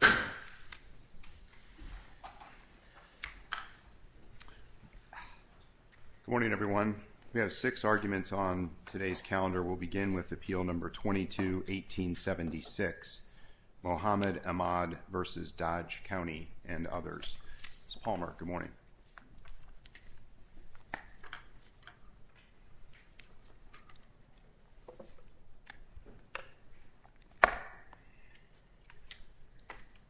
Good morning, everyone. We have six arguments on today's calendar. We'll begin with appeal number 22-1876, Mohamed Emad v. Dodge County and others. Ms. Palmer, good morning.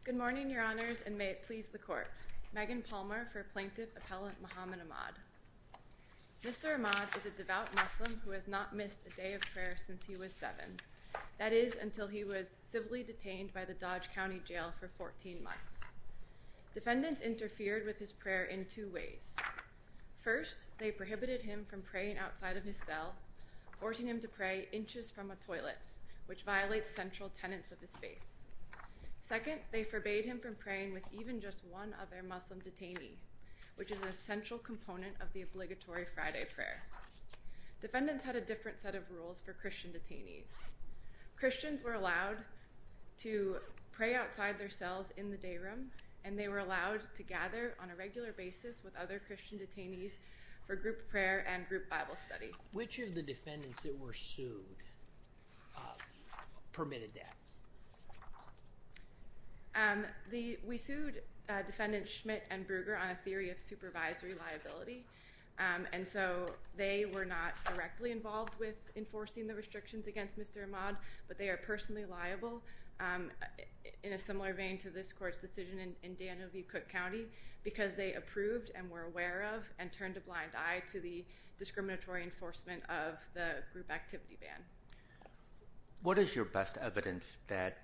Good morning, Your Honors, and may it please the Court. Megan Palmer for Plaintiff Appellant Mohamed Emad. Mr. Emad is a devout Muslim who has not missed a day of prayer since he was seven. That is, until he was civilly detained by the Dodge County Jail for 14 months. Defendants interfered with his prayer in two ways. First, they prohibited him from praying outside of his cell, forcing him to pray inches from a toilet, which violates central tenets of his faith. Second, they forbade him from praying with even just one other Muslim detainee, which is an essential component of the obligatory Friday prayer. Defendants had a different set of rules for Christian detainees. Christians were allowed to pray outside their cells in the day room, and they were allowed to gather on a regular basis with other Christian detainees for group prayer and group Bible study. Which of the defendants that were sued permitted that? We sued Defendant Schmidt and Bruger on a theory of supervisory liability, and so they were not directly involved with enforcing the restrictions against Mr. Emad, but they are personally liable, in a similar vein to this court's decision in Danville, Cook County, because they approved and were aware of and turned a blind eye to the discriminatory enforcement of the group activity ban. What is your best evidence that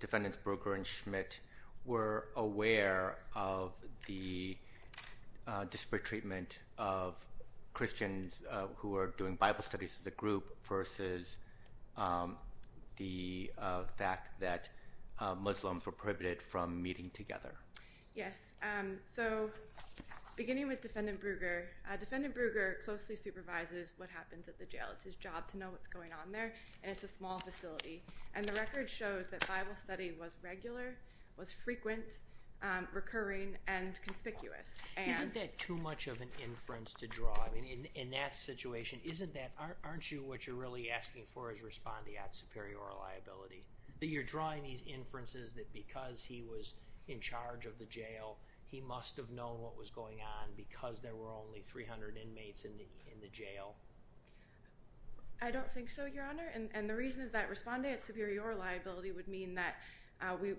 Defendants Bruger and Schmidt were aware of the disparate treatment of Christians who were doing Bible studies as a group versus the fact that Muslims were prohibited from meeting together? Beginning with Defendant Bruger, Defendant Bruger closely supervises what happens at the jail. It's his job to know what's going on there, and it's a small facility. The record shows that Bible study was regular, frequent, recurring, and conspicuous. Isn't that too much of an inference to draw? I mean, in that situation, isn't that, aren't you, what you're really asking for is respondeat superior liability? That you're drawing these inferences that because he was in charge of the jail, he must have known what was going on because there were only 300 inmates in the jail? I don't think so, Your Honor, and the reason is that respondeat superior liability would mean that we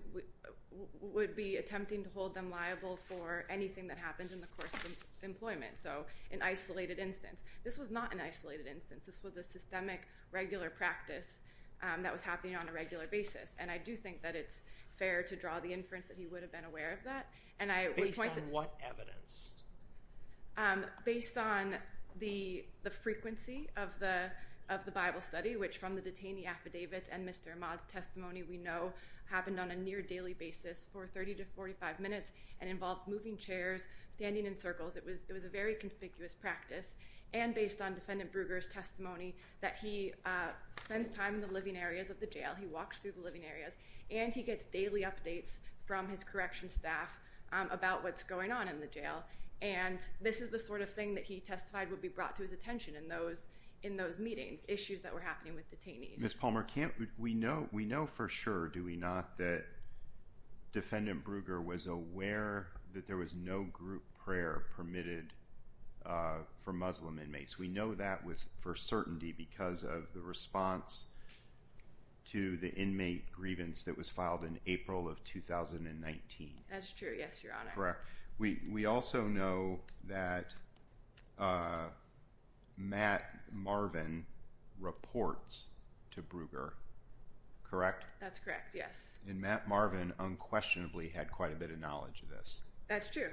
would be attempting to hold them liable for anything that happened in the course of employment, so an isolated instance. This was not an isolated instance. This was a systemic regular practice that was happening on a regular basis, and I do think that it's fair to draw the inference that he would have been aware of that. Based on what evidence? Based on the frequency of the Bible study, which from the detainee affidavits and Mr. Ahmad's testimony, we know happened on a near daily basis for 30 to 45 minutes and involved moving chairs, standing in circles. It was a very conspicuous practice, and based on Defendant Bruegger's testimony, that he spends time in the living areas of the jail. He walks through the living areas, and he gets daily updates from his correction staff about what's going on in the jail, and this is the sort of thing that he testified would be brought to his attention in those meetings, issues that were happening with detainees. Ms. Palmer, we know for sure, do we not, that Defendant Bruegger was aware that there was no group prayer permitted for Muslim inmates. We know that for certainty because of the response to the inmate grievance that was filed in April of 2019. That's true, yes, Your Honor. We also know that Matt Marvin reports to Bruegger, correct? That's correct, yes. And Matt Marvin unquestionably had quite a bit of knowledge of this. That's true.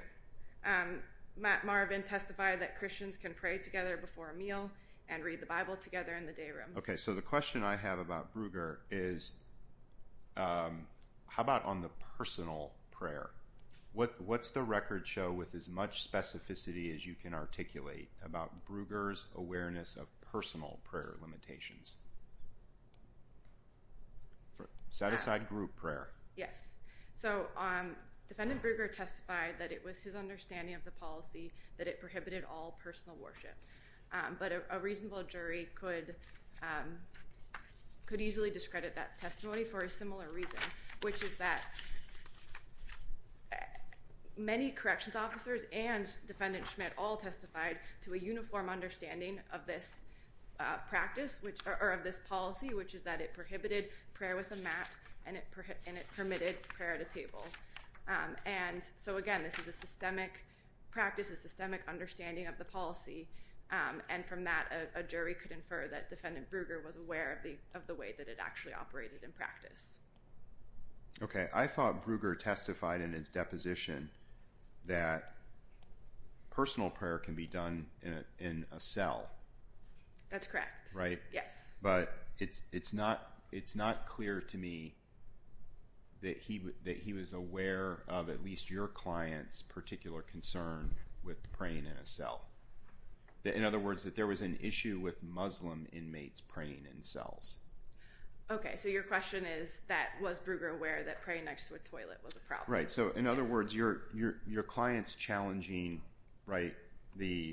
Matt Marvin testified that Christians can pray together before a meal and read the Bible together in the day room. Okay, so the question I have about Bruegger is, how about on the personal prayer? What's the record show with as much specificity as you can articulate about Bruegger's awareness of personal prayer limitations? Set aside group prayer. Yes, so Defendant Bruegger testified that it was his understanding of the policy that it prohibited all personal worship. But a reasonable jury could easily discredit that testimony for a similar reason, which is that many corrections officers and Defendant Schmidt all testified to a uniform understanding of this policy, which is that it prohibited prayer with a mat and it permitted prayer at a table. So again, this is a systemic practice, a systemic understanding of the policy. And from that, a jury could infer that Defendant Bruegger was aware of the way that it actually operated in practice. Okay, I thought Bruegger testified in his deposition that personal prayer can be done in a cell. That's correct, yes. But it's not clear to me that he was aware of at least your client's particular concern with praying in a cell. In other words, that there was an issue with Muslim inmates praying in cells. Okay, so your question is, was Bruegger aware that praying next to a toilet was a problem? Right, so in other words, your client's challenging the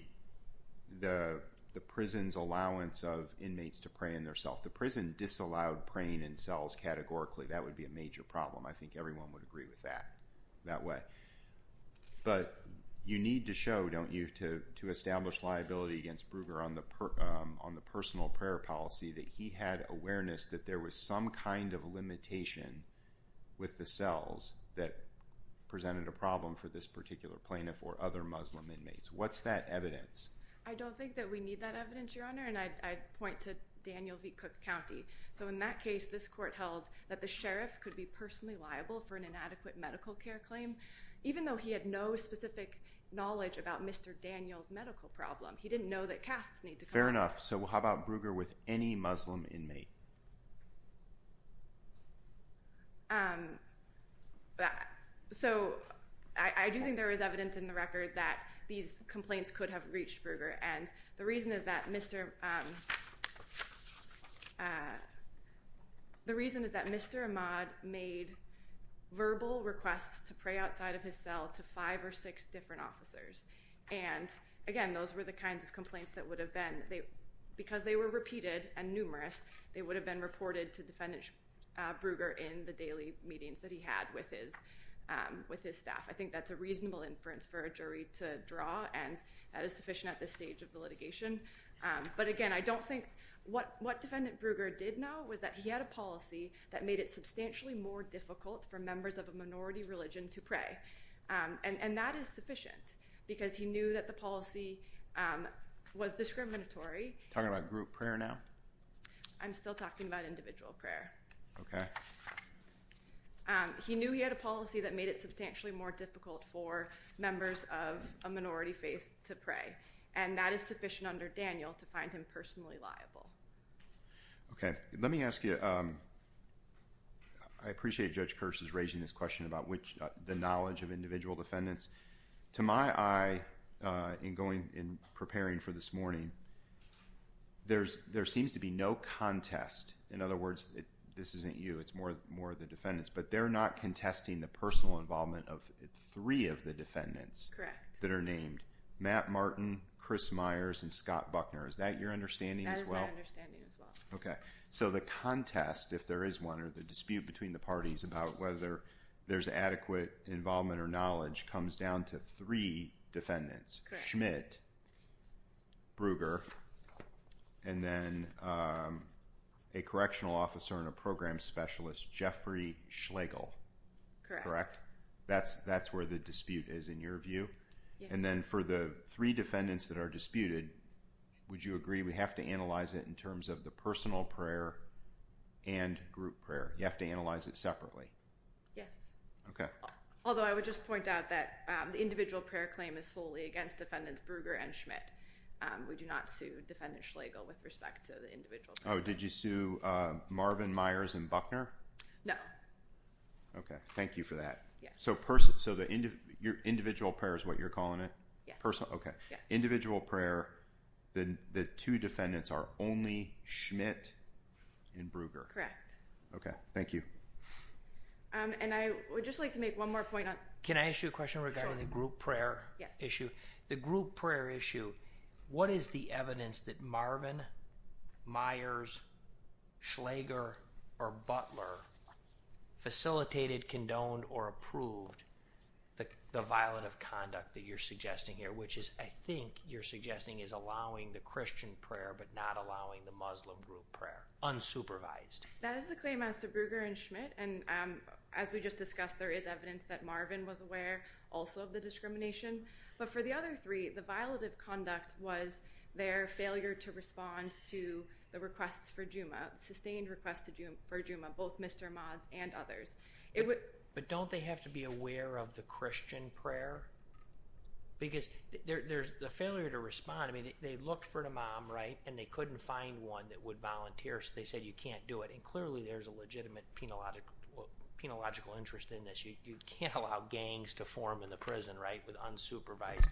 prison's allowance of inmates to pray in their cell. The prison disallowed praying in cells categorically. That would be a major problem. I think everyone would agree with that that way. But you need to show, don't you, to establish liability against Bruegger on the personal prayer policy that he had awareness that there was some kind of limitation with the cells that presented a problem for this particular plaintiff or other Muslim inmates. What's that evidence? I don't think that we need that evidence, Your Honor, and I'd point to Daniel v. Cook County. So in that case, this court held that the sheriff could be personally liable for an inadequate medical care claim, even though he had no specific knowledge about Mr. Daniel's medical problem. He didn't know that casts need to come in. Fair enough. So how about Bruegger with any Muslim inmate? So I do think there is evidence in the record that these complaints could have reached Bruegger, and the reason is that Mr. Ahmad made verbal requests to pray outside of his cell to five or six different officers. And again, those were the kinds of complaints that would have been, because they were repeated and numerous, they would have been reported to Defendant Bruegger in the daily meetings that he had with his staff. I think that's a reasonable inference for a jury to draw, and that is sufficient at this stage of the litigation. But again, I don't think, what Defendant Bruegger did know was that he had a policy that made it substantially more difficult for members of a minority religion to pray, and that is sufficient. Because he knew that the policy was discriminatory. Talking about group prayer now? I'm still talking about individual prayer. Okay. He knew he had a policy that made it substantially more difficult for members of a minority faith to pray, and that is sufficient under Daniel to find him personally liable. Okay. Let me ask you, I appreciate Judge Kirsch's raising this question about the knowledge of individual defendants. To my eye, in preparing for this morning, there seems to be no contest. In other words, this isn't you, it's more the defendants, but they're not contesting the personal involvement of three of the defendants that are named, Matt Martin, Chris Myers, and Scott Buckner. Is that your understanding as well? That is my understanding as well. Okay. So the contest, if there is one, or the dispute between the parties about whether there's adequate involvement or knowledge comes down to three defendants. Correct. Schmidt, Bruger, and then a correctional officer and a program specialist, Jeffrey Schlegel. Correct. Correct? That's where the dispute is in your view? Yes. And then for the three defendants that are disputed, would you agree we have to analyze it in terms of the personal prayer and group prayer? You have to analyze it separately? Yes. Okay. Although I would just point out that the individual prayer claim is solely against defendants Bruger and Schmidt. We do not sue defendant Schlegel with respect to the individual prayer. Oh, did you sue Marvin, Myers, and Buckner? No. Okay. Thank you for that. Yes. So the individual prayer is what you're calling it? Yes. Okay. Individual prayer, the two defendants are only Schmidt and Bruger? Correct. Okay. Thank you. And I would just like to make one more point. Can I ask you a question regarding the group prayer issue? Yes. The group prayer issue, what is the evidence that Marvin, Myers, Schlegel, or Butler facilitated, condoned, or approved the violent of conduct that you're suggesting here, which is I think you're suggesting is allowing the Christian prayer but not allowing the Muslim group prayer, unsupervised? That is the claim as to Bruger and Schmidt. And as we just discussed, there is evidence that Marvin was aware also of the discrimination. But for the other three, the violent of conduct was their failure to respond to the requests for Juma, sustained requests for Juma, both Mr. Mott's and others. But don't they have to be aware of the Christian prayer? Because there's the failure to respond. I mean, they looked for the mom, right, and they couldn't find one that would volunteer, so they said you can't do it. And clearly, there's a legitimate penological interest in this. You can't allow gangs to form in the prison, right, with unsupervised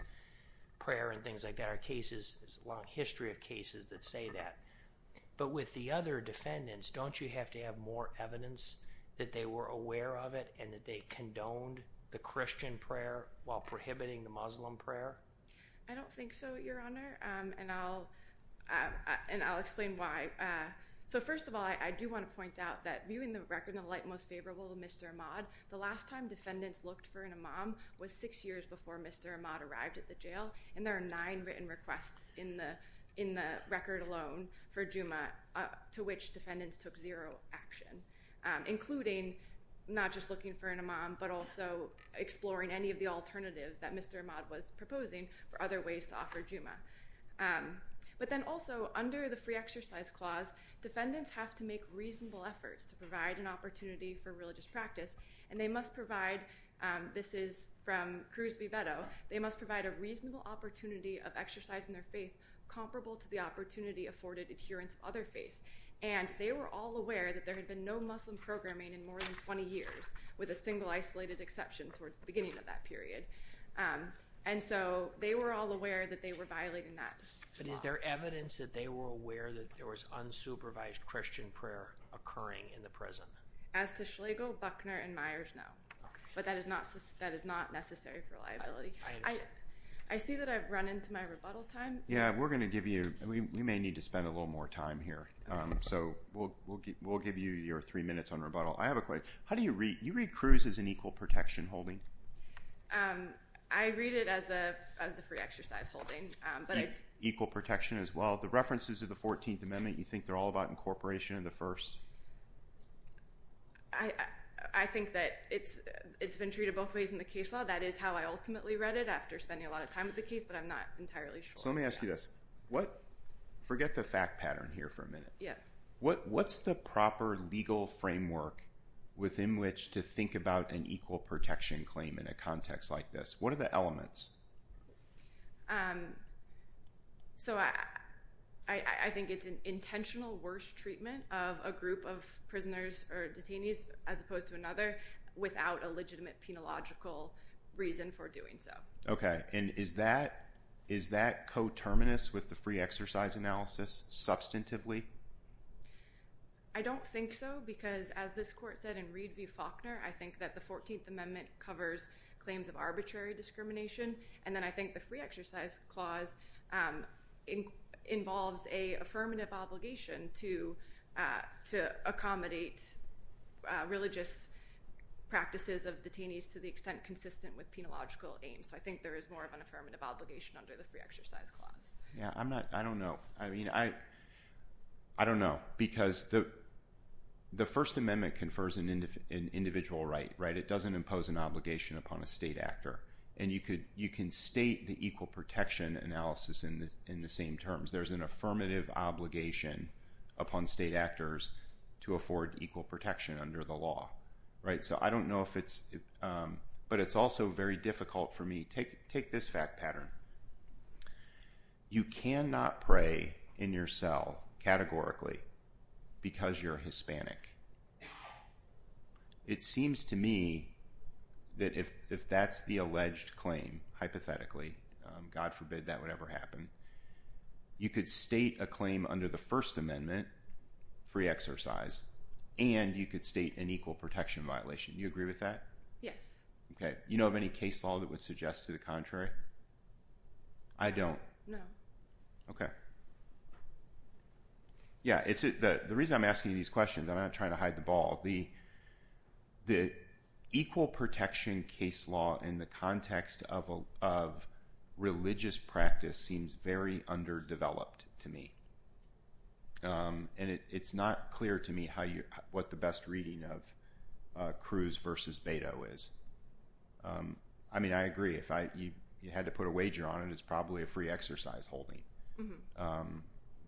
prayer and things like that. There are cases, there's a long history of cases that say that. But with the other defendants, don't you have to have more evidence that they were aware of it and that they condoned the Christian prayer while prohibiting the Muslim prayer? I don't think so, Your Honor, and I'll explain why. So first of all, I do want to point out that viewing the record in the light most favorable to Mr. Ahmad, the last time defendants looked for an imam was six years before Mr. Ahmad arrived at the jail. And there are nine written requests in the record alone for Juma to which defendants took zero action, including not just looking for an imam, but also exploring any of the alternatives that Mr. Ahmad was proposing for other ways to offer Juma. But then also under the free exercise clause, defendants have to make reasonable efforts to provide an opportunity for religious practice. And they must provide, this is from Cruz Viveto, they must provide a reasonable opportunity of exercising their faith comparable to the opportunity afforded adherence of other faiths. And they were all aware that there had been no Muslim programming in more than 20 years, with a single isolated exception towards the beginning of that period. And so they were all aware that they were violating that. But is there evidence that they were aware that there was unsupervised Christian prayer occurring in the prison? As to Schlegel, Buckner, and Myers, no. But that is not necessary for liability. I see that I've run into my rebuttal time. Yeah, we're going to give you, we may need to spend a little more time here. So we'll give you your three minutes on rebuttal. I have a question. How do you read, you read Cruz as an equal protection holding? I read it as a free exercise holding. Equal protection as well. The references of the 14th Amendment, you think they're all about incorporation of the first? I think that it's been treated both ways in the case law. That is how I ultimately read it after spending a lot of time with the case, but I'm not entirely sure. So let me ask you this. Forget the fact pattern here for a minute. What's the proper legal framework within which to think about an equal protection claim in a context like this? What are the elements? So I think it's an intentional worst treatment of a group of prisoners or detainees, as opposed to another, without a legitimate penological reason for doing so. Okay. And is that coterminous with the free exercise analysis substantively? I don't think so, because as this court said in Reed v. Faulkner, I think that the 14th Amendment covers claims of arbitrary discrimination, and then I think the free exercise clause involves an affirmative obligation to accommodate religious practices of detainees to the extent consistent with penological aims. So I think there is more of an affirmative obligation under the free exercise clause. Yeah. I don't know. I mean, I don't know, because the First Amendment confers an individual right, right? It doesn't impose an obligation upon a state actor, and you can state the equal protection analysis in the same terms. There's an affirmative obligation upon state actors to afford equal protection under the law, right? So I don't know if it's – but it's also very difficult for me. Take this fact pattern. You cannot pray in your cell categorically because you're Hispanic. It seems to me that if that's the alleged claim, hypothetically, God forbid that would ever happen, you could state a claim under the First Amendment, free exercise, and you could state an equal protection violation. Do you agree with that? Yes. Okay. You know of any case law that would suggest to the contrary? I don't. No. Okay. Yeah. The reason I'm asking you these questions, I'm not trying to hide the ball. The equal protection case law in the context of religious practice seems very underdeveloped to me, and it's not clear to me what the best reading of Cruz versus Beto is. I mean, I agree. If you had to put a wager on it, it's probably a free exercise holding,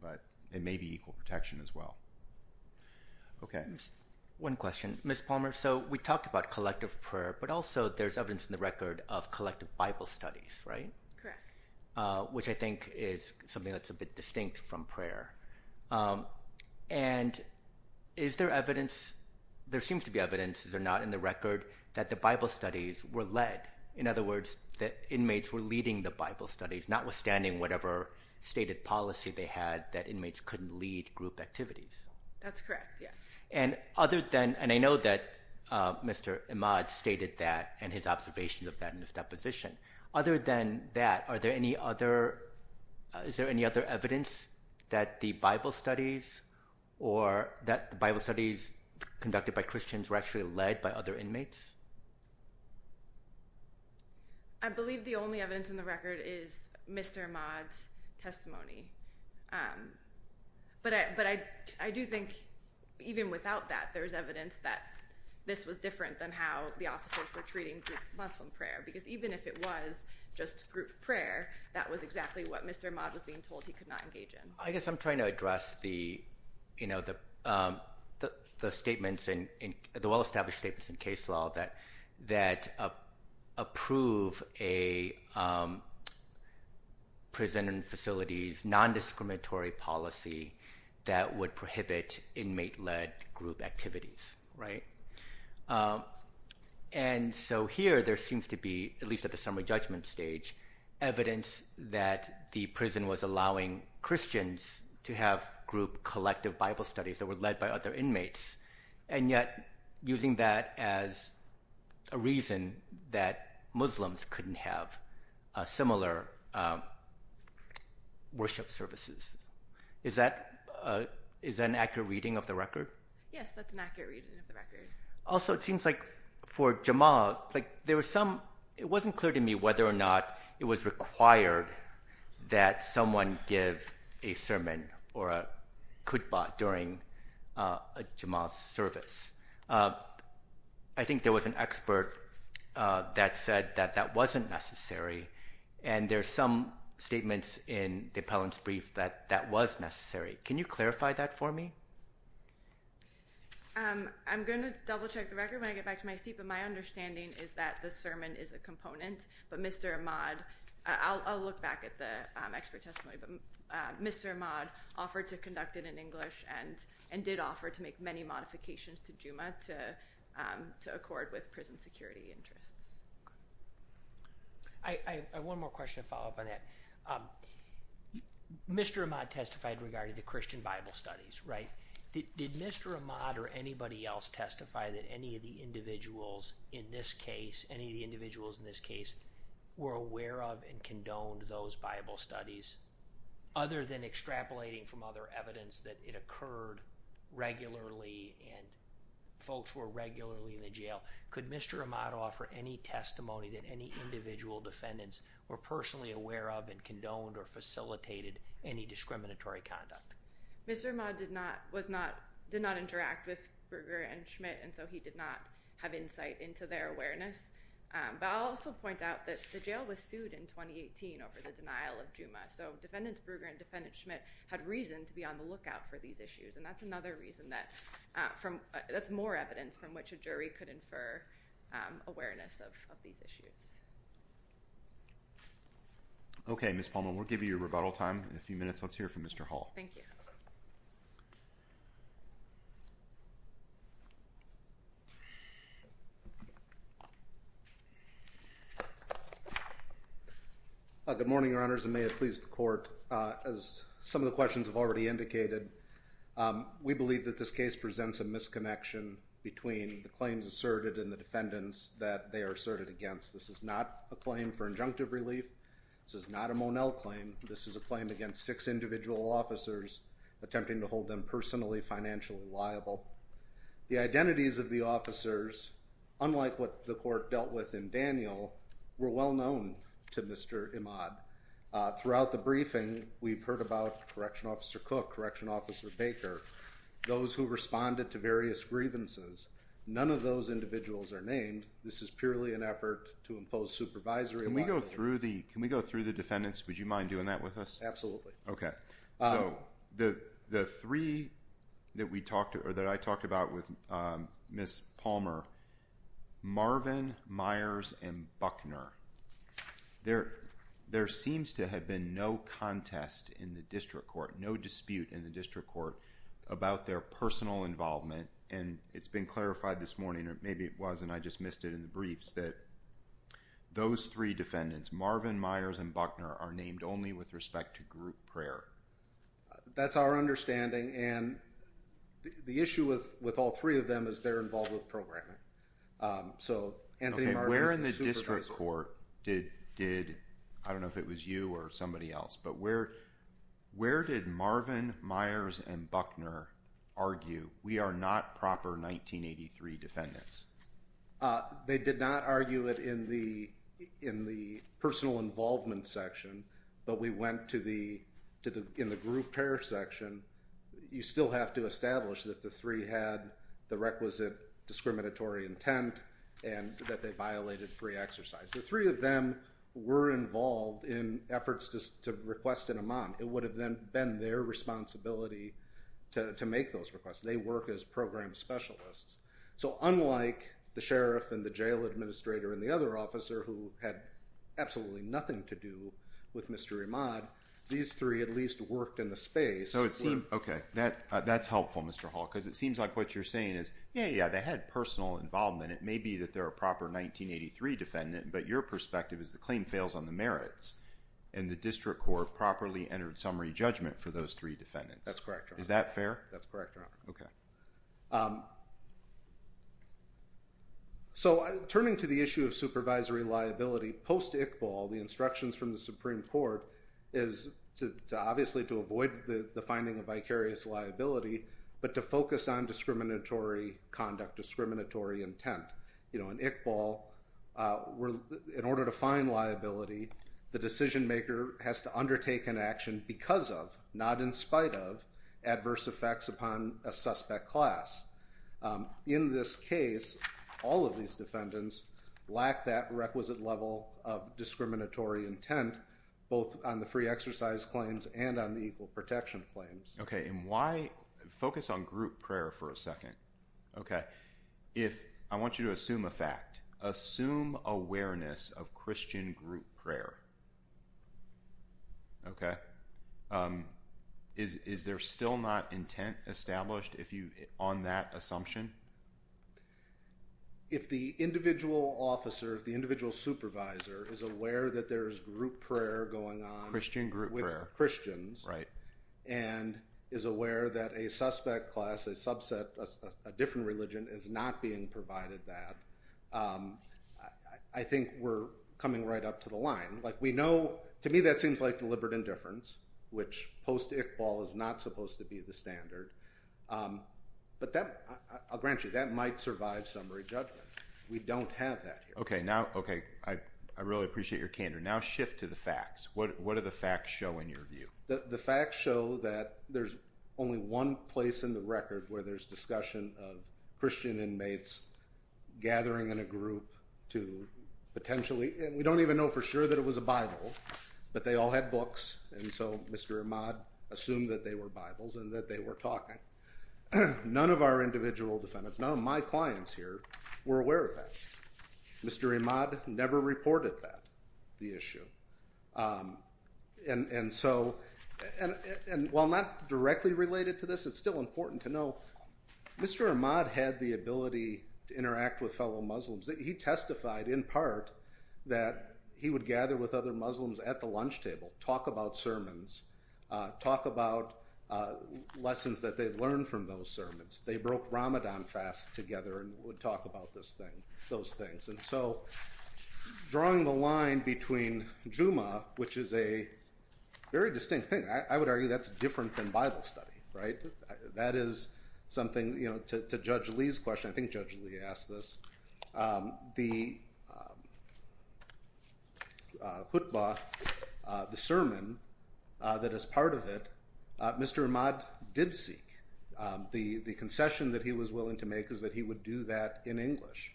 but it may be equal protection as well. Okay. One question. Ms. Palmer, so we talked about collective prayer, but also there's evidence in the record of collective Bible studies, right? Correct. Which I think is something that's a bit distinct from prayer. And is there evidence? There seems to be evidence, is there not, in the record that the Bible studies were led? In other words, that inmates were leading the Bible studies, notwithstanding whatever stated policy they had, that inmates couldn't lead group activities? That's correct, yes. And I know that Mr. Imad stated that and his observations of that in his deposition. Other than that, is there any other evidence that the Bible studies conducted by Christians were actually led by other inmates? I believe the only evidence in the record is Mr. Imad's testimony. But I do think even without that, there's evidence that this was different than how the officers were treating group Muslim prayer, because even if it was just group prayer, that was exactly what Mr. Imad was being told he could not engage in. I guess I'm trying to address the well-established statements in case law that approve a prison and facilities non-discriminatory policy that would prohibit inmate-led group activities, right? And so here there seems to be, at least at the summary judgment stage, evidence that the prison was allowing Christians to have group collective Bible studies that were led by other inmates, and yet using that as a reason that Muslims couldn't have similar worship services. Is that an accurate reading of the record? Yes, that's an accurate reading of the record. Also, it seems like for Jamal, it wasn't clear to me whether or not it was required that someone give a sermon or a khutbah during Jamal's service. I think there was an expert that said that that wasn't necessary, and there are some statements in the appellant's brief that that was necessary. Can you clarify that for me? I'm going to double-check the record when I get back to my seat, but my understanding is that the sermon is a component, but Mr. Imad – I'll look back at the expert testimony – but Mr. Imad offered to conduct it in English and did offer to make many modifications to Juma to accord with prison security interests. I have one more question to follow up on that. Mr. Imad testified regarding the Christian Bible studies, right? Did Mr. Imad or anybody else testify that any of the individuals in this case were aware of and condoned those Bible studies, other than extrapolating from other evidence that it occurred regularly and folks were regularly in the jail? Could Mr. Imad offer any testimony that any individual defendants were personally aware of and condoned or facilitated any discriminatory conduct? Mr. Imad did not interact with Brugger and Schmidt, and so he did not have insight into their awareness. But I'll also point out that the jail was sued in 2018 over the denial of Juma, so Defendants Brugger and Defendant Schmidt had reason to be on the lookout for these issues, and that's more evidence from which a jury could infer awareness of these issues. Okay, Ms. Palmer, we'll give you your rebuttal time in a few minutes. Let's hear from Mr. Hall. Thank you. Good morning, Your Honors, and may it please the Court. As some of the questions have already indicated, we believe that this case presents a misconnection between the claims asserted and the defendants that they are asserted against. This is not a claim for injunctive relief. This is not a Monell claim. This is a claim against six individual officers attempting to hold them personally financially liable. The identities of the officers, unlike what the Court dealt with in Daniel, were well known to Mr. Imad. Throughout the briefing, we've heard about Correctional Officer Cook, Correctional Officer Baker, those who responded to various grievances. None of those individuals are named. This is purely an effort to impose supervisory liability. Can we go through the defendants? Would you mind doing that with us? Absolutely. Okay. So the three that I talked about with Ms. Palmer, Marvin, Myers, and Buckner, there seems to have been no contest in the District Court, no dispute in the District Court about their personal involvement. And it's been clarified this morning, or maybe it was and I just missed it in the briefs, that those three defendants, Marvin, Myers, and Buckner, are named only with respect to group prayer. That's our understanding, and the issue with all three of them is they're involved with programming. Okay. Where in the District Court did, I don't know if it was you or somebody else, but where did Marvin, Myers, and Buckner argue, we are not proper 1983 defendants? They did not argue it in the personal involvement section, but we went to the group prayer section. You still have to establish that the three had the requisite discriminatory intent and that they violated free exercise. The three of them were involved in efforts to request an amon. It would have been their responsibility to make those requests. They work as program specialists. So unlike the sheriff and the jail administrator and the other officer who had absolutely nothing to do with Mr. Imad, these three at least worked in the space. Okay. That's helpful, Mr. Hall, because it seems like what you're saying is, yeah, yeah, they had personal involvement. It may be that they're a proper 1983 defendant, but your perspective is the claim fails on the merits, and the District Court properly entered summary judgment for those three defendants. That's correct, Your Honor. Is that fair? That's correct, Your Honor. Okay. So turning to the issue of supervisory liability, post-Iqbal, the instructions from the Supreme Court is obviously to avoid the finding of vicarious liability, but to focus on discriminatory conduct, discriminatory intent. In Iqbal, in order to find liability, the decision-maker has to undertake an action because of, not in spite of, adverse effects upon a suspect class. In this case, all of these defendants lack that requisite level of discriminatory intent, both on the free exercise claims and on the equal protection claims. Okay. And why focus on group prayer for a second? Okay. If I want you to assume a fact, assume awareness of Christian group prayer. Okay. Is there still not intent established on that assumption? If the individual officer, if the individual supervisor is aware that there is group prayer going on with Christians and is aware that a suspect class, a subset, a different religion, is not being provided that, I think we're coming right up to the line. Like we know, to me that seems like deliberate indifference, which post-Iqbal is not supposed to be the standard. But that, I'll grant you, that might survive summary judgment. We don't have that here. Okay. Now, okay. I really appreciate your candor. Now shift to the facts. What do the facts show in your view? The facts show that there's only one place in the record where there's discussion of Christian inmates gathering in a group to potentially, and we don't even know for sure that it was a Bible, but they all had books, and so Mr. Imad assumed that they were Bibles and that they were talking. None of our individual defendants, none of my clients here, were aware of that. Mr. Imad never reported that, the issue. And so, while not directly related to this, it's still important to know, Mr. Imad had the ability to interact with fellow Muslims. He testified, in part, that he would gather with other Muslims at the lunch table, talk about sermons, talk about lessons that they've learned from those sermons. They broke Ramadan fast together and would talk about this thing, those things. And so, drawing the line between Jumu'ah, which is a very distinct thing. I would argue that's different than Bible study, right? That is something, you know, to Judge Lee's question, I think Judge Lee asked this, the khutbah, the sermon, that is part of it, Mr. Imad did seek. The concession that he was willing to make is that he would do that in English.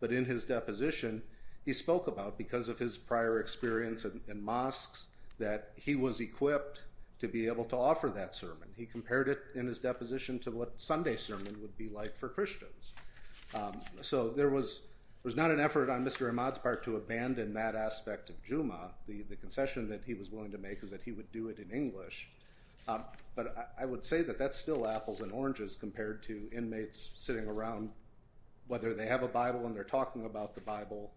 But in his deposition, he spoke about, because of his prior experience in mosques, that he was equipped to be able to offer that sermon. He compared it, in his deposition, to what Sunday sermon would be like for Christians. So there was not an effort on Mr. Imad's part to abandon that aspect of Jumu'ah. The concession that he was willing to make is that he would do it in English. But I would say that that's still apples and oranges compared to inmates sitting around, whether they have a Bible and they're talking about the Bible.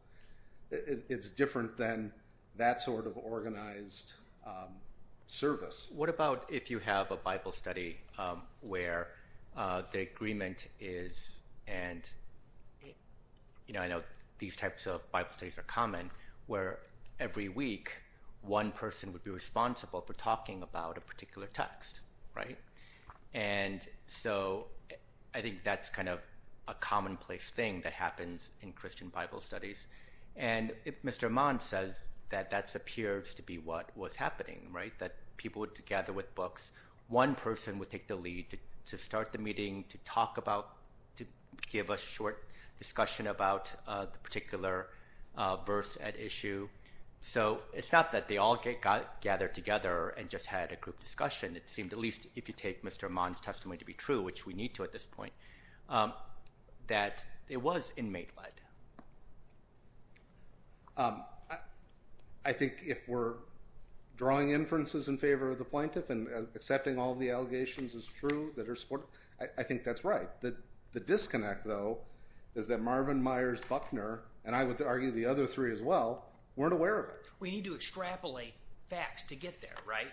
It's different than that sort of organized service. What about if you have a Bible study where the agreement is, and I know these types of Bible studies are common, where every week one person would be responsible for talking about a particular text, right? And so I think that's kind of a commonplace thing that happens in Christian Bible studies. And Mr. Imad says that that appears to be what was happening, right? That people would gather with books. One person would take the lead to start the meeting, to talk about, to give a short discussion about the particular verse at issue. So it's not that they all got gathered together and just had a group discussion. It seemed, at least if you take Mr. Imad's testimony to be true, which we need to at this point, that it was inmate-led. I think if we're drawing inferences in favor of the plaintiff and accepting all the allegations as true that are supported, I think that's right. The disconnect, though, is that Marvin Myers Buckner, and I would argue the other three as well, weren't aware of it. We need to extrapolate facts to get there, right?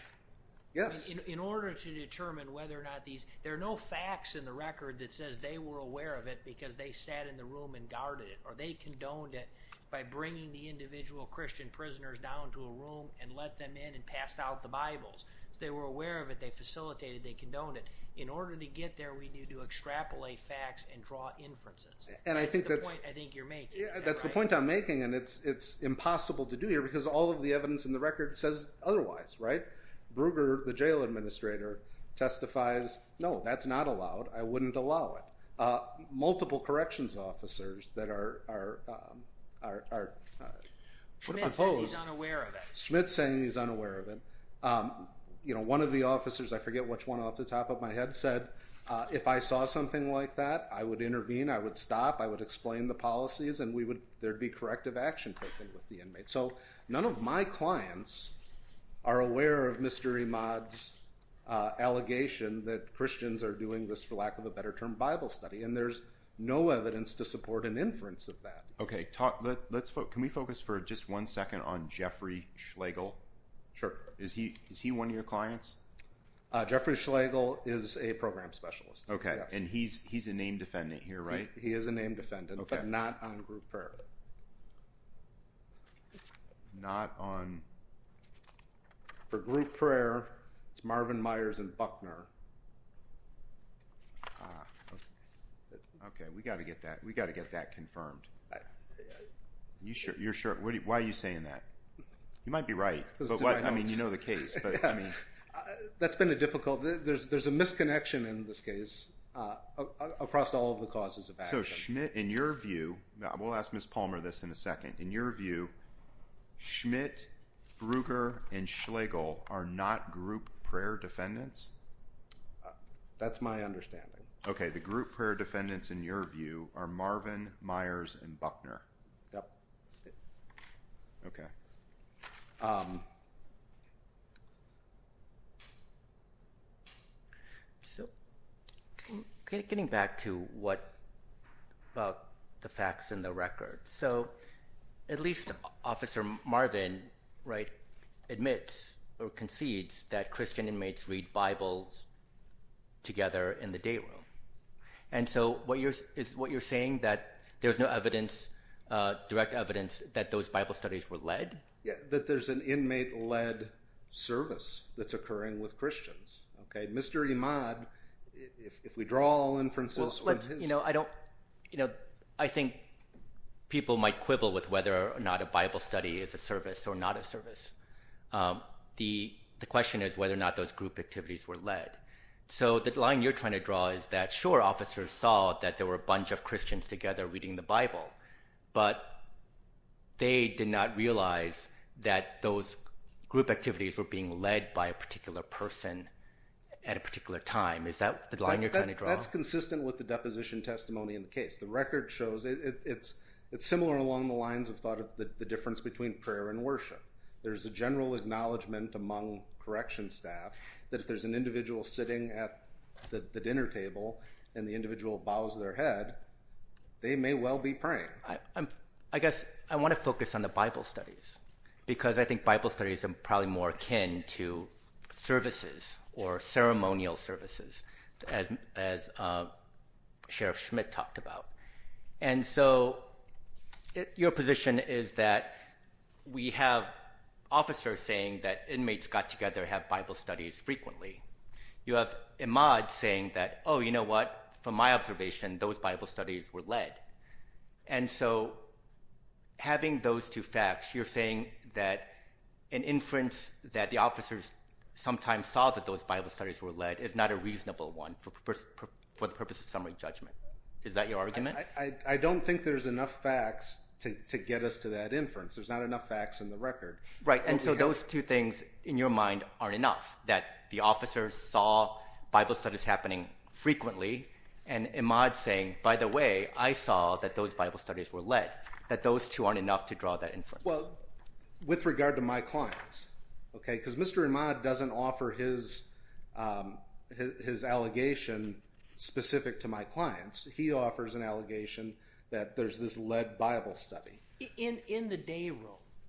Yes. In order to determine whether or not these, there are no facts in the record that says they were aware of it because they sat in the room and guarded it, or they condoned it by bringing the individual Christian prisoners down to a room and let them in and passed out the Bibles. If they were aware of it, they facilitated, they condoned it. In order to get there, we need to extrapolate facts and draw inferences. That's the point I think you're making. That's the point I'm making, and it's impossible to do here because all of the evidence in the record says otherwise, right? Ruger, the jail administrator, testifies, no, that's not allowed. I wouldn't allow it. Multiple corrections officers that are opposed. Schmidt says he's unaware of it. Schmidt's saying he's unaware of it. One of the officers, I forget which one off the top of my head, said, if I saw something like that, I would intervene, I would stop, I would explain the policies, and there would be corrective action taken with the inmate. So none of my clients are aware of Mr. Imad's allegation that Christians are doing this for lack of a better term Bible study, and there's no evidence to support an inference of that. Okay, can we focus for just one second on Jeffrey Schlegel? Sure. Is he one of your clients? Jeffrey Schlegel is a program specialist, yes. Okay, and he's a name defendant here, right? He is a name defendant, but not on group prayer. Not on? For group prayer, it's Marvin Myers and Buckner. Okay, we've got to get that confirmed. You're sure? Why are you saying that? You might be right. I mean, you know the case. That's been a difficult one. There's a misconnection in this case across all of the causes of action. So Schmitt, in your view, we'll ask Ms. Palmer this in a second. In your view, Schmitt, Frueger, and Schlegel are not group prayer defendants? That's my understanding. Okay, the group prayer defendants, in your view, are Marvin Myers and Buckner. Yep. Okay. So getting back to what about the facts and the record. So at least Officer Marvin admits or concedes that Christian inmates read Bibles together in the day room. And so is what you're saying that there's no direct evidence that those Bible studies were led? Yeah, that there's an inmate-led service that's occurring with Christians. Okay, Mr. Imad, if we draw all inferences. I think people might quibble with whether or not a Bible study is a service or not a service. The question is whether or not those group activities were led. So the line you're trying to draw is that, sure, officers saw that there were a bunch of Christians together reading the Bible. But they did not realize that those group activities were being led by a particular person at a particular time. Is that the line you're trying to draw? That's consistent with the deposition testimony in the case. The record shows it's similar along the lines of the difference between prayer and worship. There's a general acknowledgment among correction staff that if there's an individual sitting at the dinner table and the individual bows their head, they may well be praying. I guess I want to focus on the Bible studies because I think Bible studies are probably more akin to services or ceremonial services, as Sheriff Schmidt talked about. And so your position is that we have officers saying that inmates got together and had Bible studies frequently. You have Imad saying that, oh, you know what? From my observation, those Bible studies were led. And so having those two facts, you're saying that an inference that the officers sometimes saw that those Bible studies were led is not a reasonable one for the purpose of summary judgment. Is that your argument? I don't think there's enough facts to get us to that inference. There's not enough facts in the record. Right, and so those two things in your mind aren't enough, that the officers saw Bible studies happening frequently and Imad saying, by the way, I saw that those Bible studies were led, that those two aren't enough to draw that inference. Well, with regard to my clients, because Mr. Imad doesn't offer his allegation specific to my clients. He offers an allegation that there's this led Bible study. In the day room?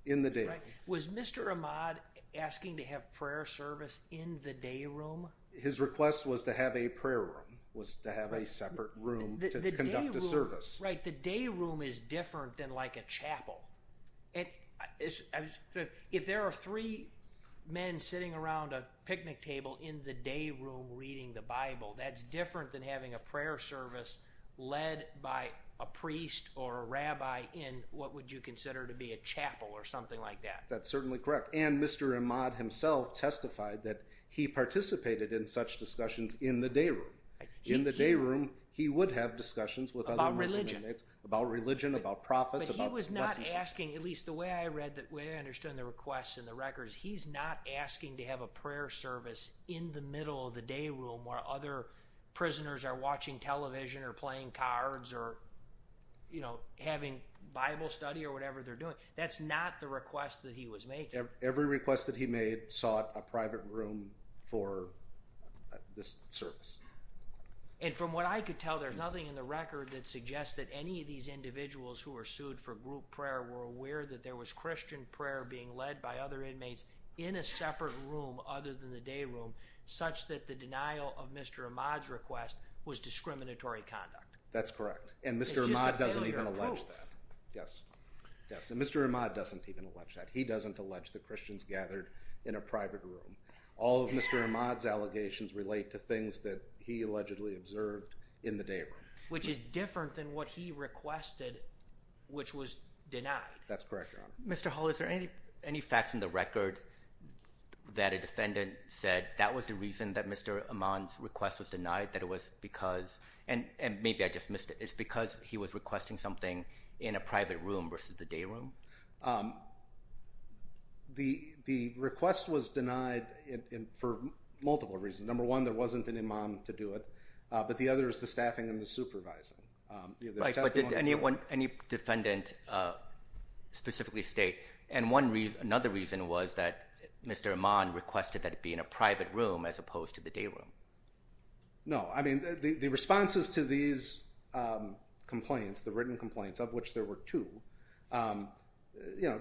In the day room. Was Mr. Imad asking to have prayer service in the day room? His request was to have a prayer room, was to have a separate room to conduct a service. Right, the day room is different than like a chapel. If there are three men sitting around a picnic table in the day room reading the Bible, that's different than having a prayer service led by a priest or a rabbi in what would you consider to be a chapel or something like that. That's certainly correct. And Mr. Imad himself testified that he participated in such discussions in the day room. In the day room, he would have discussions with other Muslim inmates. About religion. About religion, about prophets. But he was not asking, at least the way I read, the way I understood the request in the records, he's not asking to have a prayer service in the middle of the day room where other prisoners are watching television or playing cards or, you know, having Bible study or whatever they're doing. That's not the request that he was making. Every request that he made sought a private room for this service. And from what I could tell, there's nothing in the record that suggests that any of these individuals who were sued for group prayer were aware that there was Christian prayer being led by other inmates in a separate room other than the day room, such that the denial of Mr. Imad's request was discriminatory conduct. That's correct. And Mr. Imad doesn't even allege that. It's just a failure of proof. Yes. Yes. And Mr. Imad doesn't even allege that. He doesn't allege that Christians gathered in a private room. All of Mr. Imad's allegations relate to things that he allegedly observed in the day room. Which is different than what he requested, which was denied. That's correct, Your Honor. Mr. Hall, is there any facts in the record that a defendant said that was the reason that Mr. Imad's request was denied, that it was because—and maybe I just missed it—it's because he was requesting something in a private room versus the day room? The request was denied for multiple reasons. Number one, there wasn't an imam to do it. But the other is the staffing and the supervising. But did any defendant specifically state, and another reason was that Mr. Imad requested that it be in a private room as opposed to the day room? No. I mean, the responses to these complaints, the written complaints, of which there were two,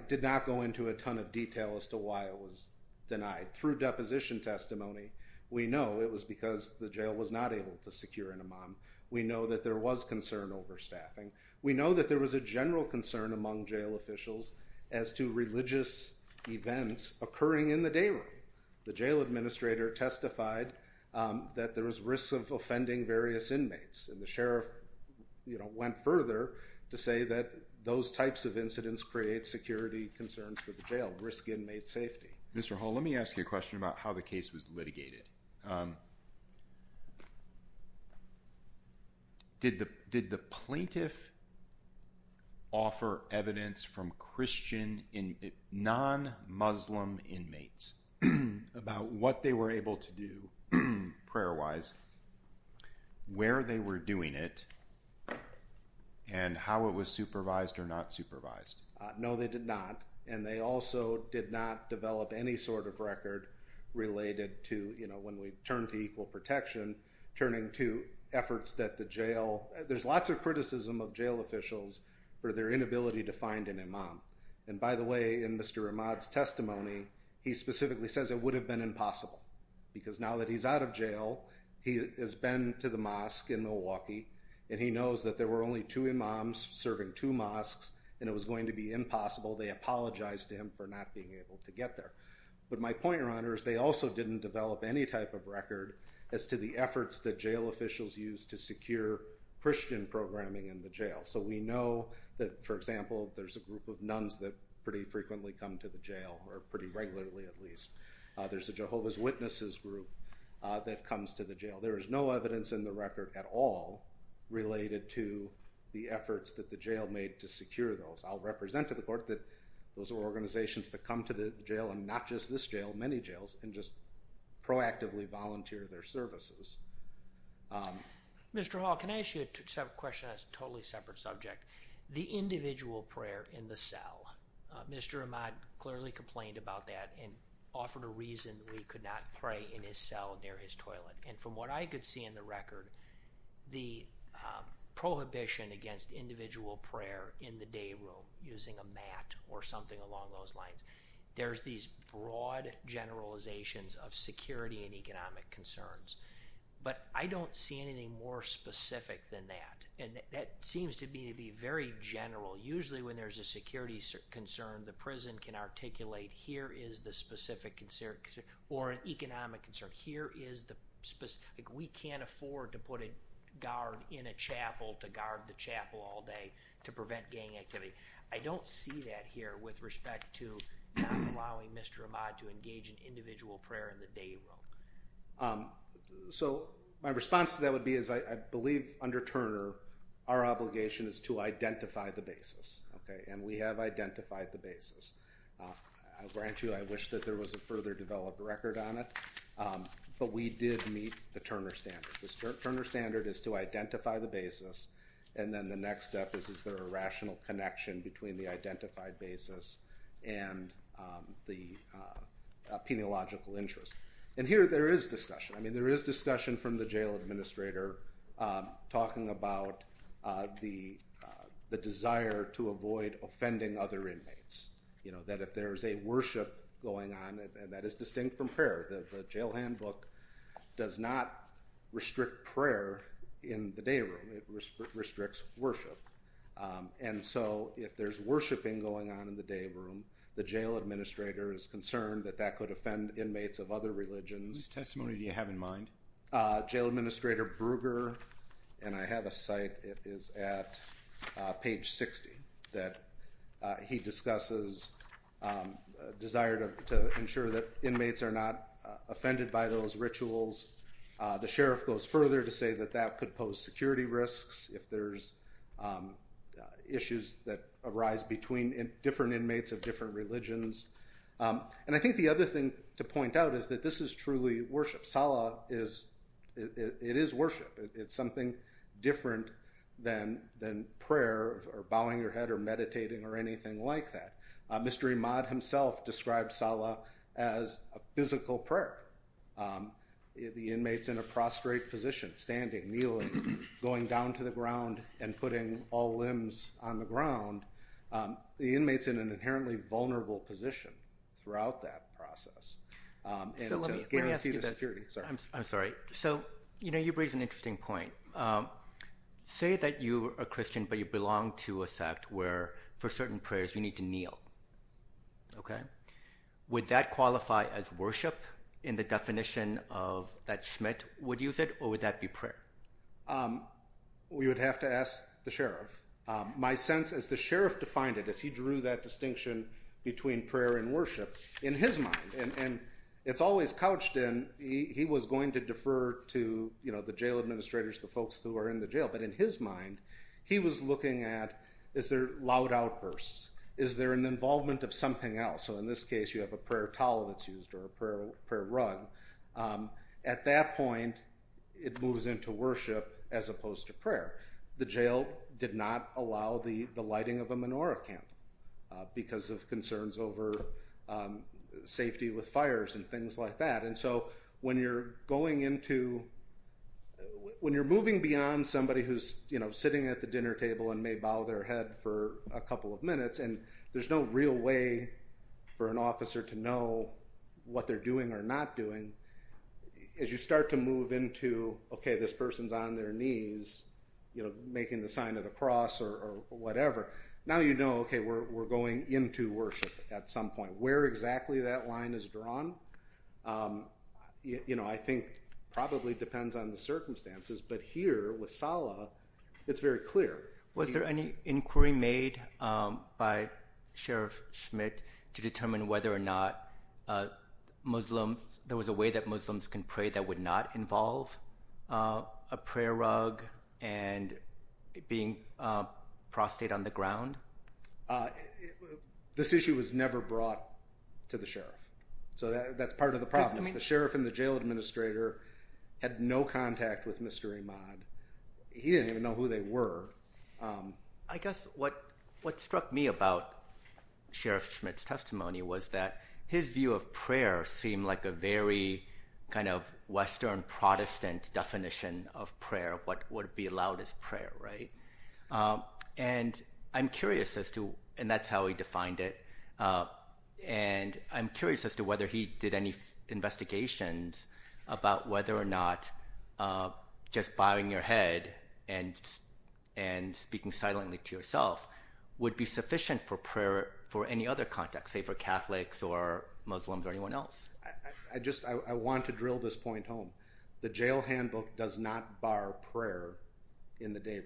did not go into a ton of detail as to why it was denied. Through deposition testimony, we know it was because the jail was not able to secure an imam. We know that there was concern over staffing. We know that there was a general concern among jail officials as to religious events occurring in the day room. The jail administrator testified that there was risk of offending various inmates. And the sheriff went further to say that those types of incidents create security concerns for the jail, risk inmate safety. Mr. Hall, let me ask you a question about how the case was litigated. Did the plaintiff offer evidence from non-Muslim inmates about what they were able to do prayer-wise, where they were doing it, and how it was supervised or not supervised? No, they did not. And they also did not develop any sort of record related to, you know, when we turn to equal protection, turning to efforts that the jail— there's lots of criticism of jail officials for their inability to find an imam. And by the way, in Mr. Rahmad's testimony, he specifically says it would have been impossible because now that he's out of jail, he has been to the mosque in Milwaukee, and he knows that there were only two imams serving two mosques, and it was going to be impossible. They apologized to him for not being able to get there. But my point, Your Honor, is they also didn't develop any type of record as to the efforts that jail officials used to secure Christian programming in the jail. So we know that, for example, there's a group of nuns that pretty frequently come to the jail, or pretty regularly at least. There's a Jehovah's Witnesses group that comes to the jail. There is no evidence in the record at all related to the efforts that the jail made to secure those. I'll represent to the court that those are organizations that come to the jail, and not just this jail, many jails, and just proactively volunteer their services. Mr. Hall, can I ask you a question that's a totally separate subject? The individual prayer in the cell. Mr. Rahmad clearly complained about that and offered a reason we could not pray in his cell near his toilet. And from what I could see in the record, the prohibition against individual prayer in the day room using a mat or something along those lines, there's these broad generalizations of security and economic concerns. But I don't see anything more specific than that, and that seems to me to be very general. Usually when there's a security concern, the prison can articulate here is the specific concern, or an economic concern. Here is the specific. We can't afford to put a guard in a chapel to guard the chapel all day to prevent gang activity. I don't see that here with respect to not allowing Mr. Rahmad to engage in individual prayer in the day room. So my response to that would be is I believe under Turner, our obligation is to identify the basis. And we have identified the basis. I grant you I wish that there was a further developed record on it, but we did meet the Turner standard. The Turner standard is to identify the basis, and then the next step is is there a rational connection between the identified basis and the peniological interest. And here there is discussion. I mean there is discussion from the jail administrator talking about the desire to avoid offending other inmates, that if there is a worship going on, and that is distinct from prayer. The jail handbook does not restrict prayer in the day room. It restricts worship. And so if there is worshiping going on in the day room, the jail administrator is concerned that that could offend inmates of other religions. Whose testimony do you have in mind? Jail administrator Bruger, and I have a site. It is at page 60 that he discusses a desire to ensure that inmates are not offended by those rituals. The sheriff goes further to say that that could pose security risks if there is issues that arise between different inmates of different religions. And I think the other thing to point out is that this is truly worship. Salah is, it is worship. It is something different than prayer or bowing your head or meditating or anything like that. Mr. Imad himself described Salah as a physical prayer. The inmates in a prostrate position, standing, kneeling, going down to the ground, and putting all limbs on the ground. The inmates in an inherently vulnerable position throughout that process. And to guarantee the security. I'm sorry. So, you know, you raise an interesting point. Say that you are a Christian, but you belong to a sect where for certain prayers you need to kneel. Okay. Would that qualify as worship in the definition that Schmidt would use it, or would that be prayer? We would have to ask the sheriff. My sense is the sheriff defined it as he drew that distinction between prayer and worship. In his mind, and it's always couched in, he was going to defer to, you know, the jail administrators, the folks who are in the jail. But in his mind, he was looking at, is there loud outbursts? Is there an involvement of something else? So in this case, you have a prayer towel that's used or a prayer rug. At that point, it moves into worship as opposed to prayer. The jail did not allow the lighting of a menorah camp because of concerns over safety with fires and things like that. And so when you're going into, when you're moving beyond somebody who's, you know, sitting at the dinner table and may bow their head for a couple of minutes, and there's no real way for an officer to know what they're doing or not doing. As you start to move into, okay, this person's on their knees, you know, making the sign of the cross or whatever. Now you know, okay, we're going into worship at some point. You know, where exactly that line is drawn, you know, I think probably depends on the circumstances. But here with Salah, it's very clear. Was there any inquiry made by Sheriff Schmidt to determine whether or not Muslims, there was a way that Muslims can pray that would not involve a prayer rug and being prostrated on the ground? This issue was never brought to the sheriff. So that's part of the problem. The sheriff and the jail administrator had no contact with Mr. Imad. He didn't even know who they were. I guess what struck me about Sheriff Schmidt's testimony was that his view of prayer seemed like a very kind of Western Protestant definition of prayer. What would be allowed is prayer, right? And I'm curious as to, and that's how he defined it, and I'm curious as to whether he did any investigations about whether or not just bowing your head and speaking silently to yourself would be sufficient for prayer for any other context, say for Catholics or Muslims or anyone else. I just want to drill this point home. The jail handbook does not bar prayer in the day room.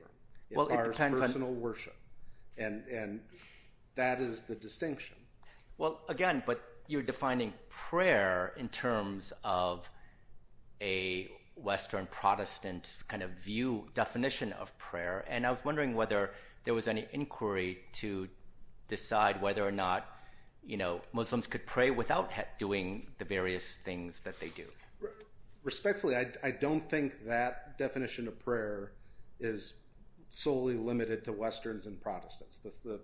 It bars personal worship. And that is the distinction. Well, again, but you're defining prayer in terms of a Western Protestant kind of view, definition of prayer. And I was wondering whether there was any inquiry to decide whether or not Muslims could pray without doing the various things that they do. Respectfully, I don't think that definition of prayer is solely limited to Westerns and Protestants. The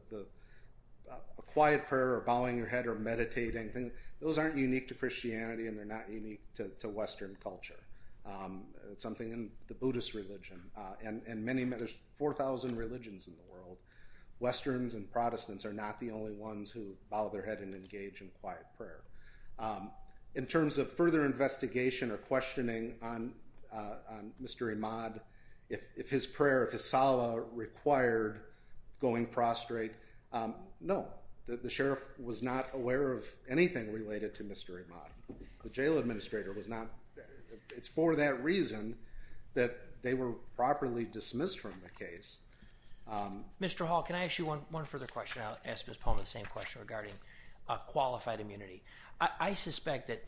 quiet prayer or bowing your head or meditating, those aren't unique to Christianity and they're not unique to Western culture. It's something in the Buddhist religion. And there's 4,000 religions in the world. Westerns and Protestants are not the only ones who bow their head and engage in quiet prayer. In terms of further investigation or questioning on Mr. Ahmad, if his prayer, if his salah required going prostrate, no. The sheriff was not aware of anything related to Mr. Ahmad. The jail administrator was not. It's for that reason that they were properly dismissed from the case. Mr. Hall, can I ask you one further question? I'll ask Ms. Polman the same question regarding qualified immunity. I suspect that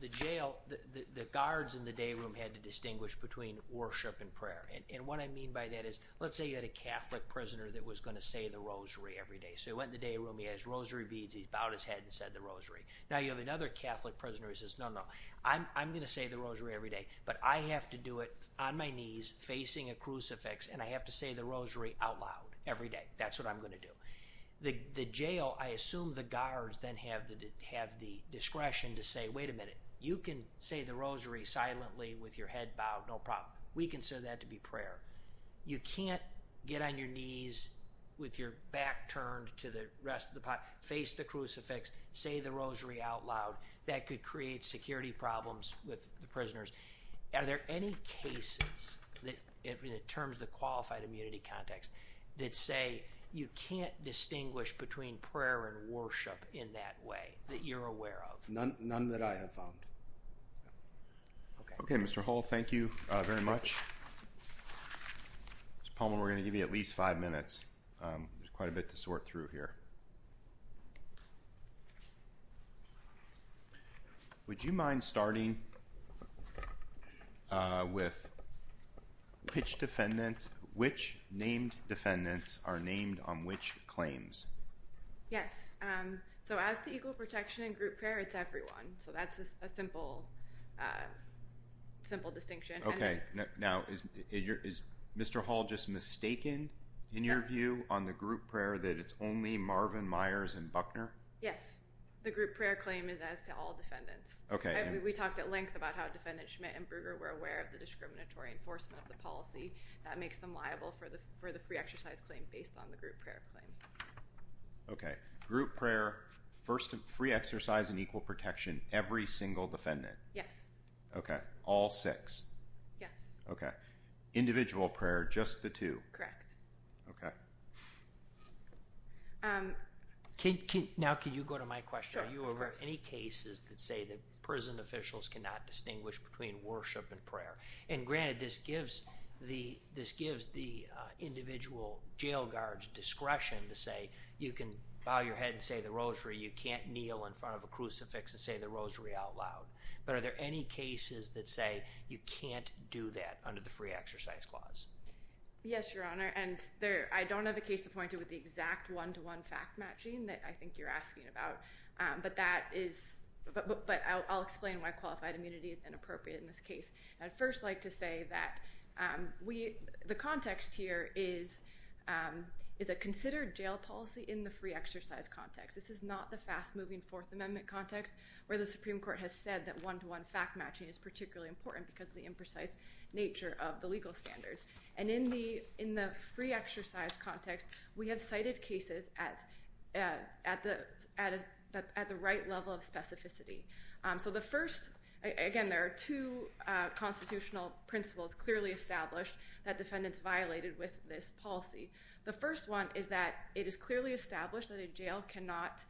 the jail, the guards in the day room had to distinguish between worship and prayer. And what I mean by that is, let's say you had a Catholic prisoner that was going to say the rosary every day. So he went in the day room, he had his rosary beads, he bowed his head and said the rosary. Now you have another Catholic prisoner who says, no, no, I'm going to say the rosary every day. But I have to do it on my knees facing a crucifix and I have to say the rosary out loud every day. That's what I'm going to do. The jail, I assume the guards then have the discretion to say, wait a minute, you can say the rosary silently with your head bowed, no problem. We consider that to be prayer. You can't get on your knees with your back turned to the rest of the population, face the crucifix, say the rosary out loud. That could create security problems with the prisoners. Are there any cases in terms of the qualified immunity context that say you can't distinguish between prayer and worship in that way that you're aware of? None that I have found. Okay, Mr. Hull, thank you very much. Mr. Palmer, we're going to give you at least five minutes. There's quite a bit to sort through here. Would you mind starting with which defendants, which named defendants are named on which claims? Yes. So as to equal protection and group prayer, it's everyone. So that's a simple, simple distinction. Okay. Now, is Mr. Hull just mistaken in your view on the group prayer that it's only Marvin Myers and Buckner? Yes. The group prayer claim is as to all defendants. Okay. We talked at length about how Defendant Schmidt and Bruger were aware of the discriminatory enforcement of the policy. That makes them liable for the free exercise claim based on the group prayer claim. Okay. Group prayer, free exercise, and equal protection, every single defendant? Yes. Okay. All six? Yes. Okay. Individual prayer, just the two? Correct. Okay. Now, can you go to my question? Sure, of course. Are you aware of any cases that say that prison officials cannot distinguish between worship and prayer? And granted, this gives the individual jail guard discretion to say you can bow your head and say the rosary. You can't kneel in front of a crucifix and say the rosary out loud. But are there any cases that say you can't do that under the free exercise clause? Yes, Your Honor. And I don't have a case appointed with the exact one-to-one fact matching that I think you're asking about. But I'll explain why qualified immunity is inappropriate in this case. I'd first like to say that the context here is a considered jail policy in the free exercise context. This is not the fast-moving Fourth Amendment context where the Supreme Court has said that one-to-one fact matching is particularly important because of the imprecise nature of the legal standards. And in the free exercise context, we have cited cases at the right level of specificity. So the first, again, there are two constitutional principles clearly established that defendants violated with this policy. The first one is that it is clearly established that a jail cannot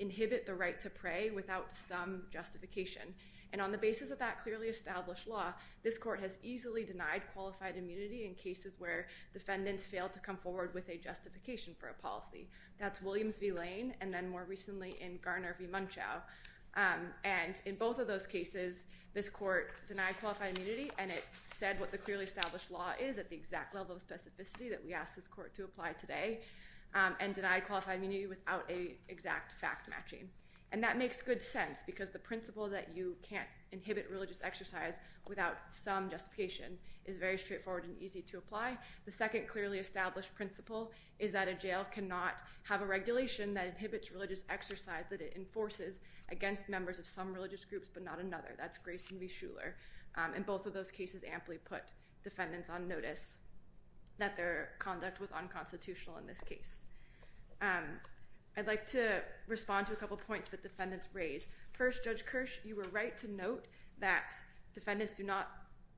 inhibit the right to pray without some justification. And on the basis of that clearly established law, this court has easily denied qualified immunity in cases where defendants failed to come forward with a justification for a policy. That's Williams v. Lane and then more recently in Garner v. Munchau. And in both of those cases, this court denied qualified immunity and it said what the clearly established law is at the exact level of specificity that we asked this court to apply today and denied qualified immunity without a exact fact matching. And that makes good sense because the principle that you can't inhibit religious exercise without some justification is very straightforward and easy to apply. The second clearly established principle is that a jail cannot have a regulation that inhibits religious exercise that it enforces against members of some religious groups but not another. That's Grace v. Shuler. And both of those cases amply put defendants on notice that their conduct was unconstitutional in this case. I'd like to respond to a couple points that defendants raised. First, Judge Kirsch, you were right to note that defendants do not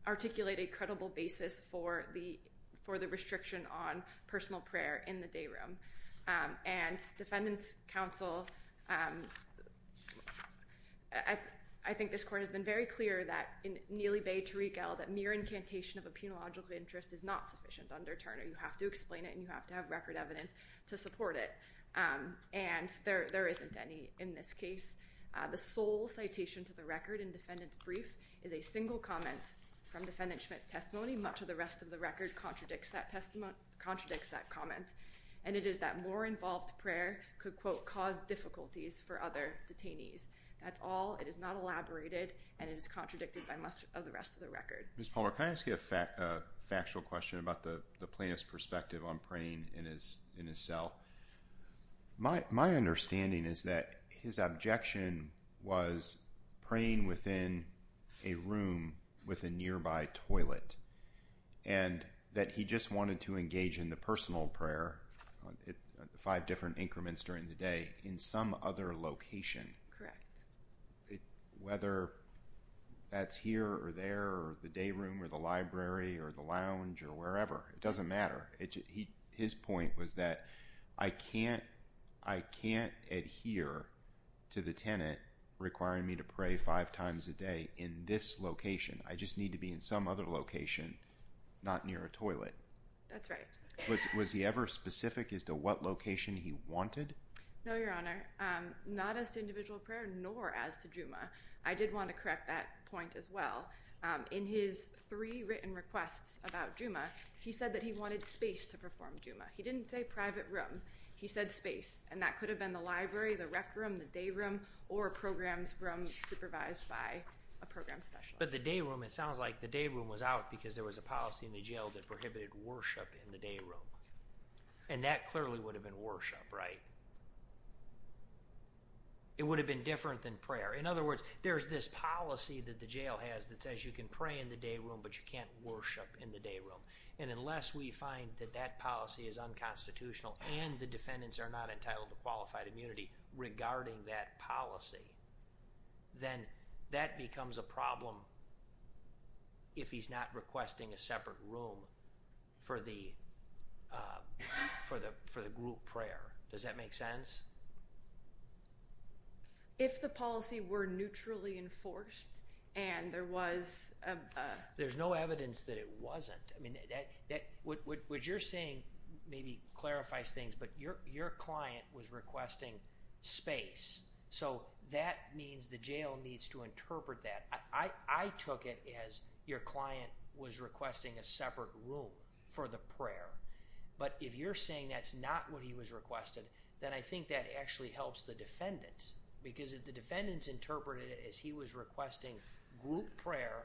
articulate a credible basis for the restriction on personal prayer in the day room. And defendants counsel, I think this court has been very clear that in Neely Bay to Riegel that mere incantation of a penological interest is not sufficient under Turner. You have to explain it and you have to have record evidence to support it. And there isn't any in this case. The sole citation to the record in defendant's brief is a single comment from defendant Schmidt's testimony. Much of the rest of the record contradicts that comment. And it is that more involved prayer could, quote, cause difficulties for other detainees. That's all. It is not elaborated and it is contradicted by much of the rest of the record. Ms. Palmer, can I ask you a factual question about the plaintiff's perspective on praying in his cell? My understanding is that his objection was praying within a room with a nearby toilet and that he just wanted to engage in the personal prayer, five different increments during the day, in some other location. Correct. Whether that's here or there or the day room or the library or the lounge or wherever, it doesn't matter. His point was that I can't adhere to the tenant requiring me to pray five times a day in this location. I just need to be in some other location, not near a toilet. That's right. Was he ever specific as to what location he wanted? No, Your Honor. Not as to individual prayer nor as to Juma. I did want to correct that point as well. In his three written requests about Juma, he said that he wanted space to perform Juma. He didn't say private room. He said space. And that could have been the library, the rec room, the day room, or programs supervised by a program specialist. But the day room, it sounds like the day room was out because there was a policy in the jail that prohibited worship in the day room. And that clearly would have been worship, right? It would have been different than prayer. In other words, there's this policy that the jail has that says you can pray in the day room but you can't worship in the day room. And unless we find that that policy is unconstitutional and the defendants are not entitled to qualified immunity regarding that policy, then that becomes a problem if he's not requesting a separate room for the group prayer. Does that make sense? If the policy were neutrally enforced and there was a... There's no evidence that it wasn't. What you're saying maybe clarifies things, but your client was requesting space. So that means the jail needs to interpret that. I took it as your client was requesting a separate room for the prayer. But if you're saying that's not what he was requesting, then I think that actually helps the defendants. Because if the defendants interpreted it as he was requesting group prayer,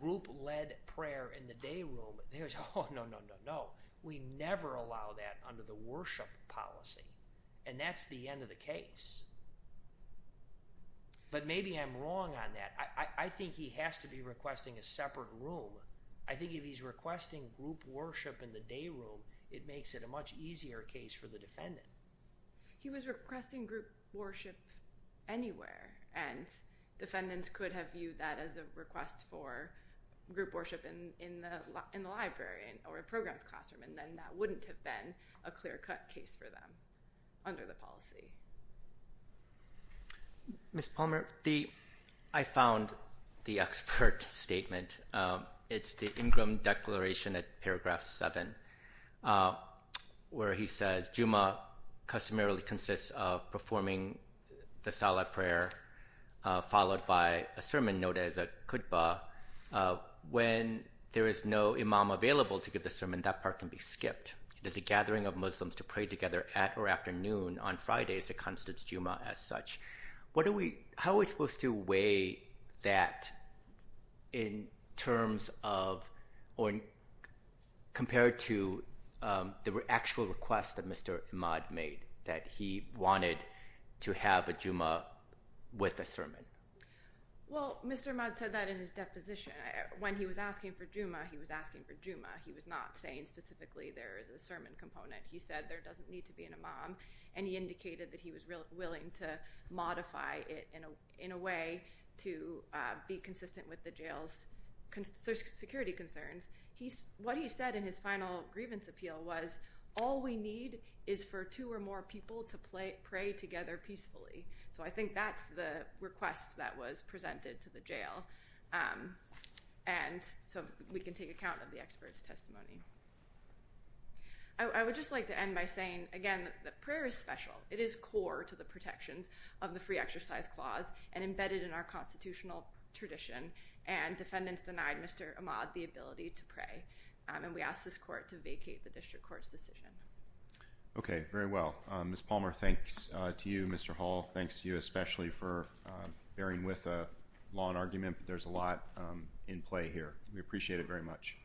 group-led prayer in the day room, they would say, oh, no, no, no, no. We never allow that under the worship policy. And that's the end of the case. But maybe I'm wrong on that. I think he has to be requesting a separate room. I think if he's requesting group worship in the day room, it makes it a much easier case for the defendant. He was requesting group worship anywhere. And defendants could have viewed that as a request for group worship in the library or a programs classroom. And then that wouldn't have been a clear-cut case for them under the policy. Ms. Palmer, I found the expert statement. It's the Ingram Declaration at paragraph 7, where he says, Jumu'ah customarily consists of performing the salat prayer followed by a sermon known as a khutbah. When there is no imam available to give the sermon, that part can be skipped. It is a gathering of Muslims to pray together at or after noon on Fridays. It constitutes Jumu'ah as such. How are we supposed to weigh that compared to the actual request that Mr. Imad made, that he wanted to have a Jumu'ah with a sermon? Well, Mr. Imad said that in his deposition. When he was asking for Jumu'ah, he was asking for Jumu'ah. He was not saying specifically there is a sermon component. He said there doesn't need to be an imam. And he indicated that he was willing to modify it in a way to be consistent with the jail's security concerns. What he said in his final grievance appeal was, all we need is for two or more people to pray together peacefully. So I think that's the request that was presented to the jail. And so we can take account of the expert's testimony. I would just like to end by saying, again, that prayer is special. It is core to the protections of the free exercise clause and embedded in our constitutional tradition. And defendants denied Mr. Imad the ability to pray. And we ask this court to vacate the district court's decision. Okay, very well. Ms. Palmer, thanks to you. Mr. Hall, thanks to you especially for bearing with a long argument. There's a lot in play here. We appreciate it very much.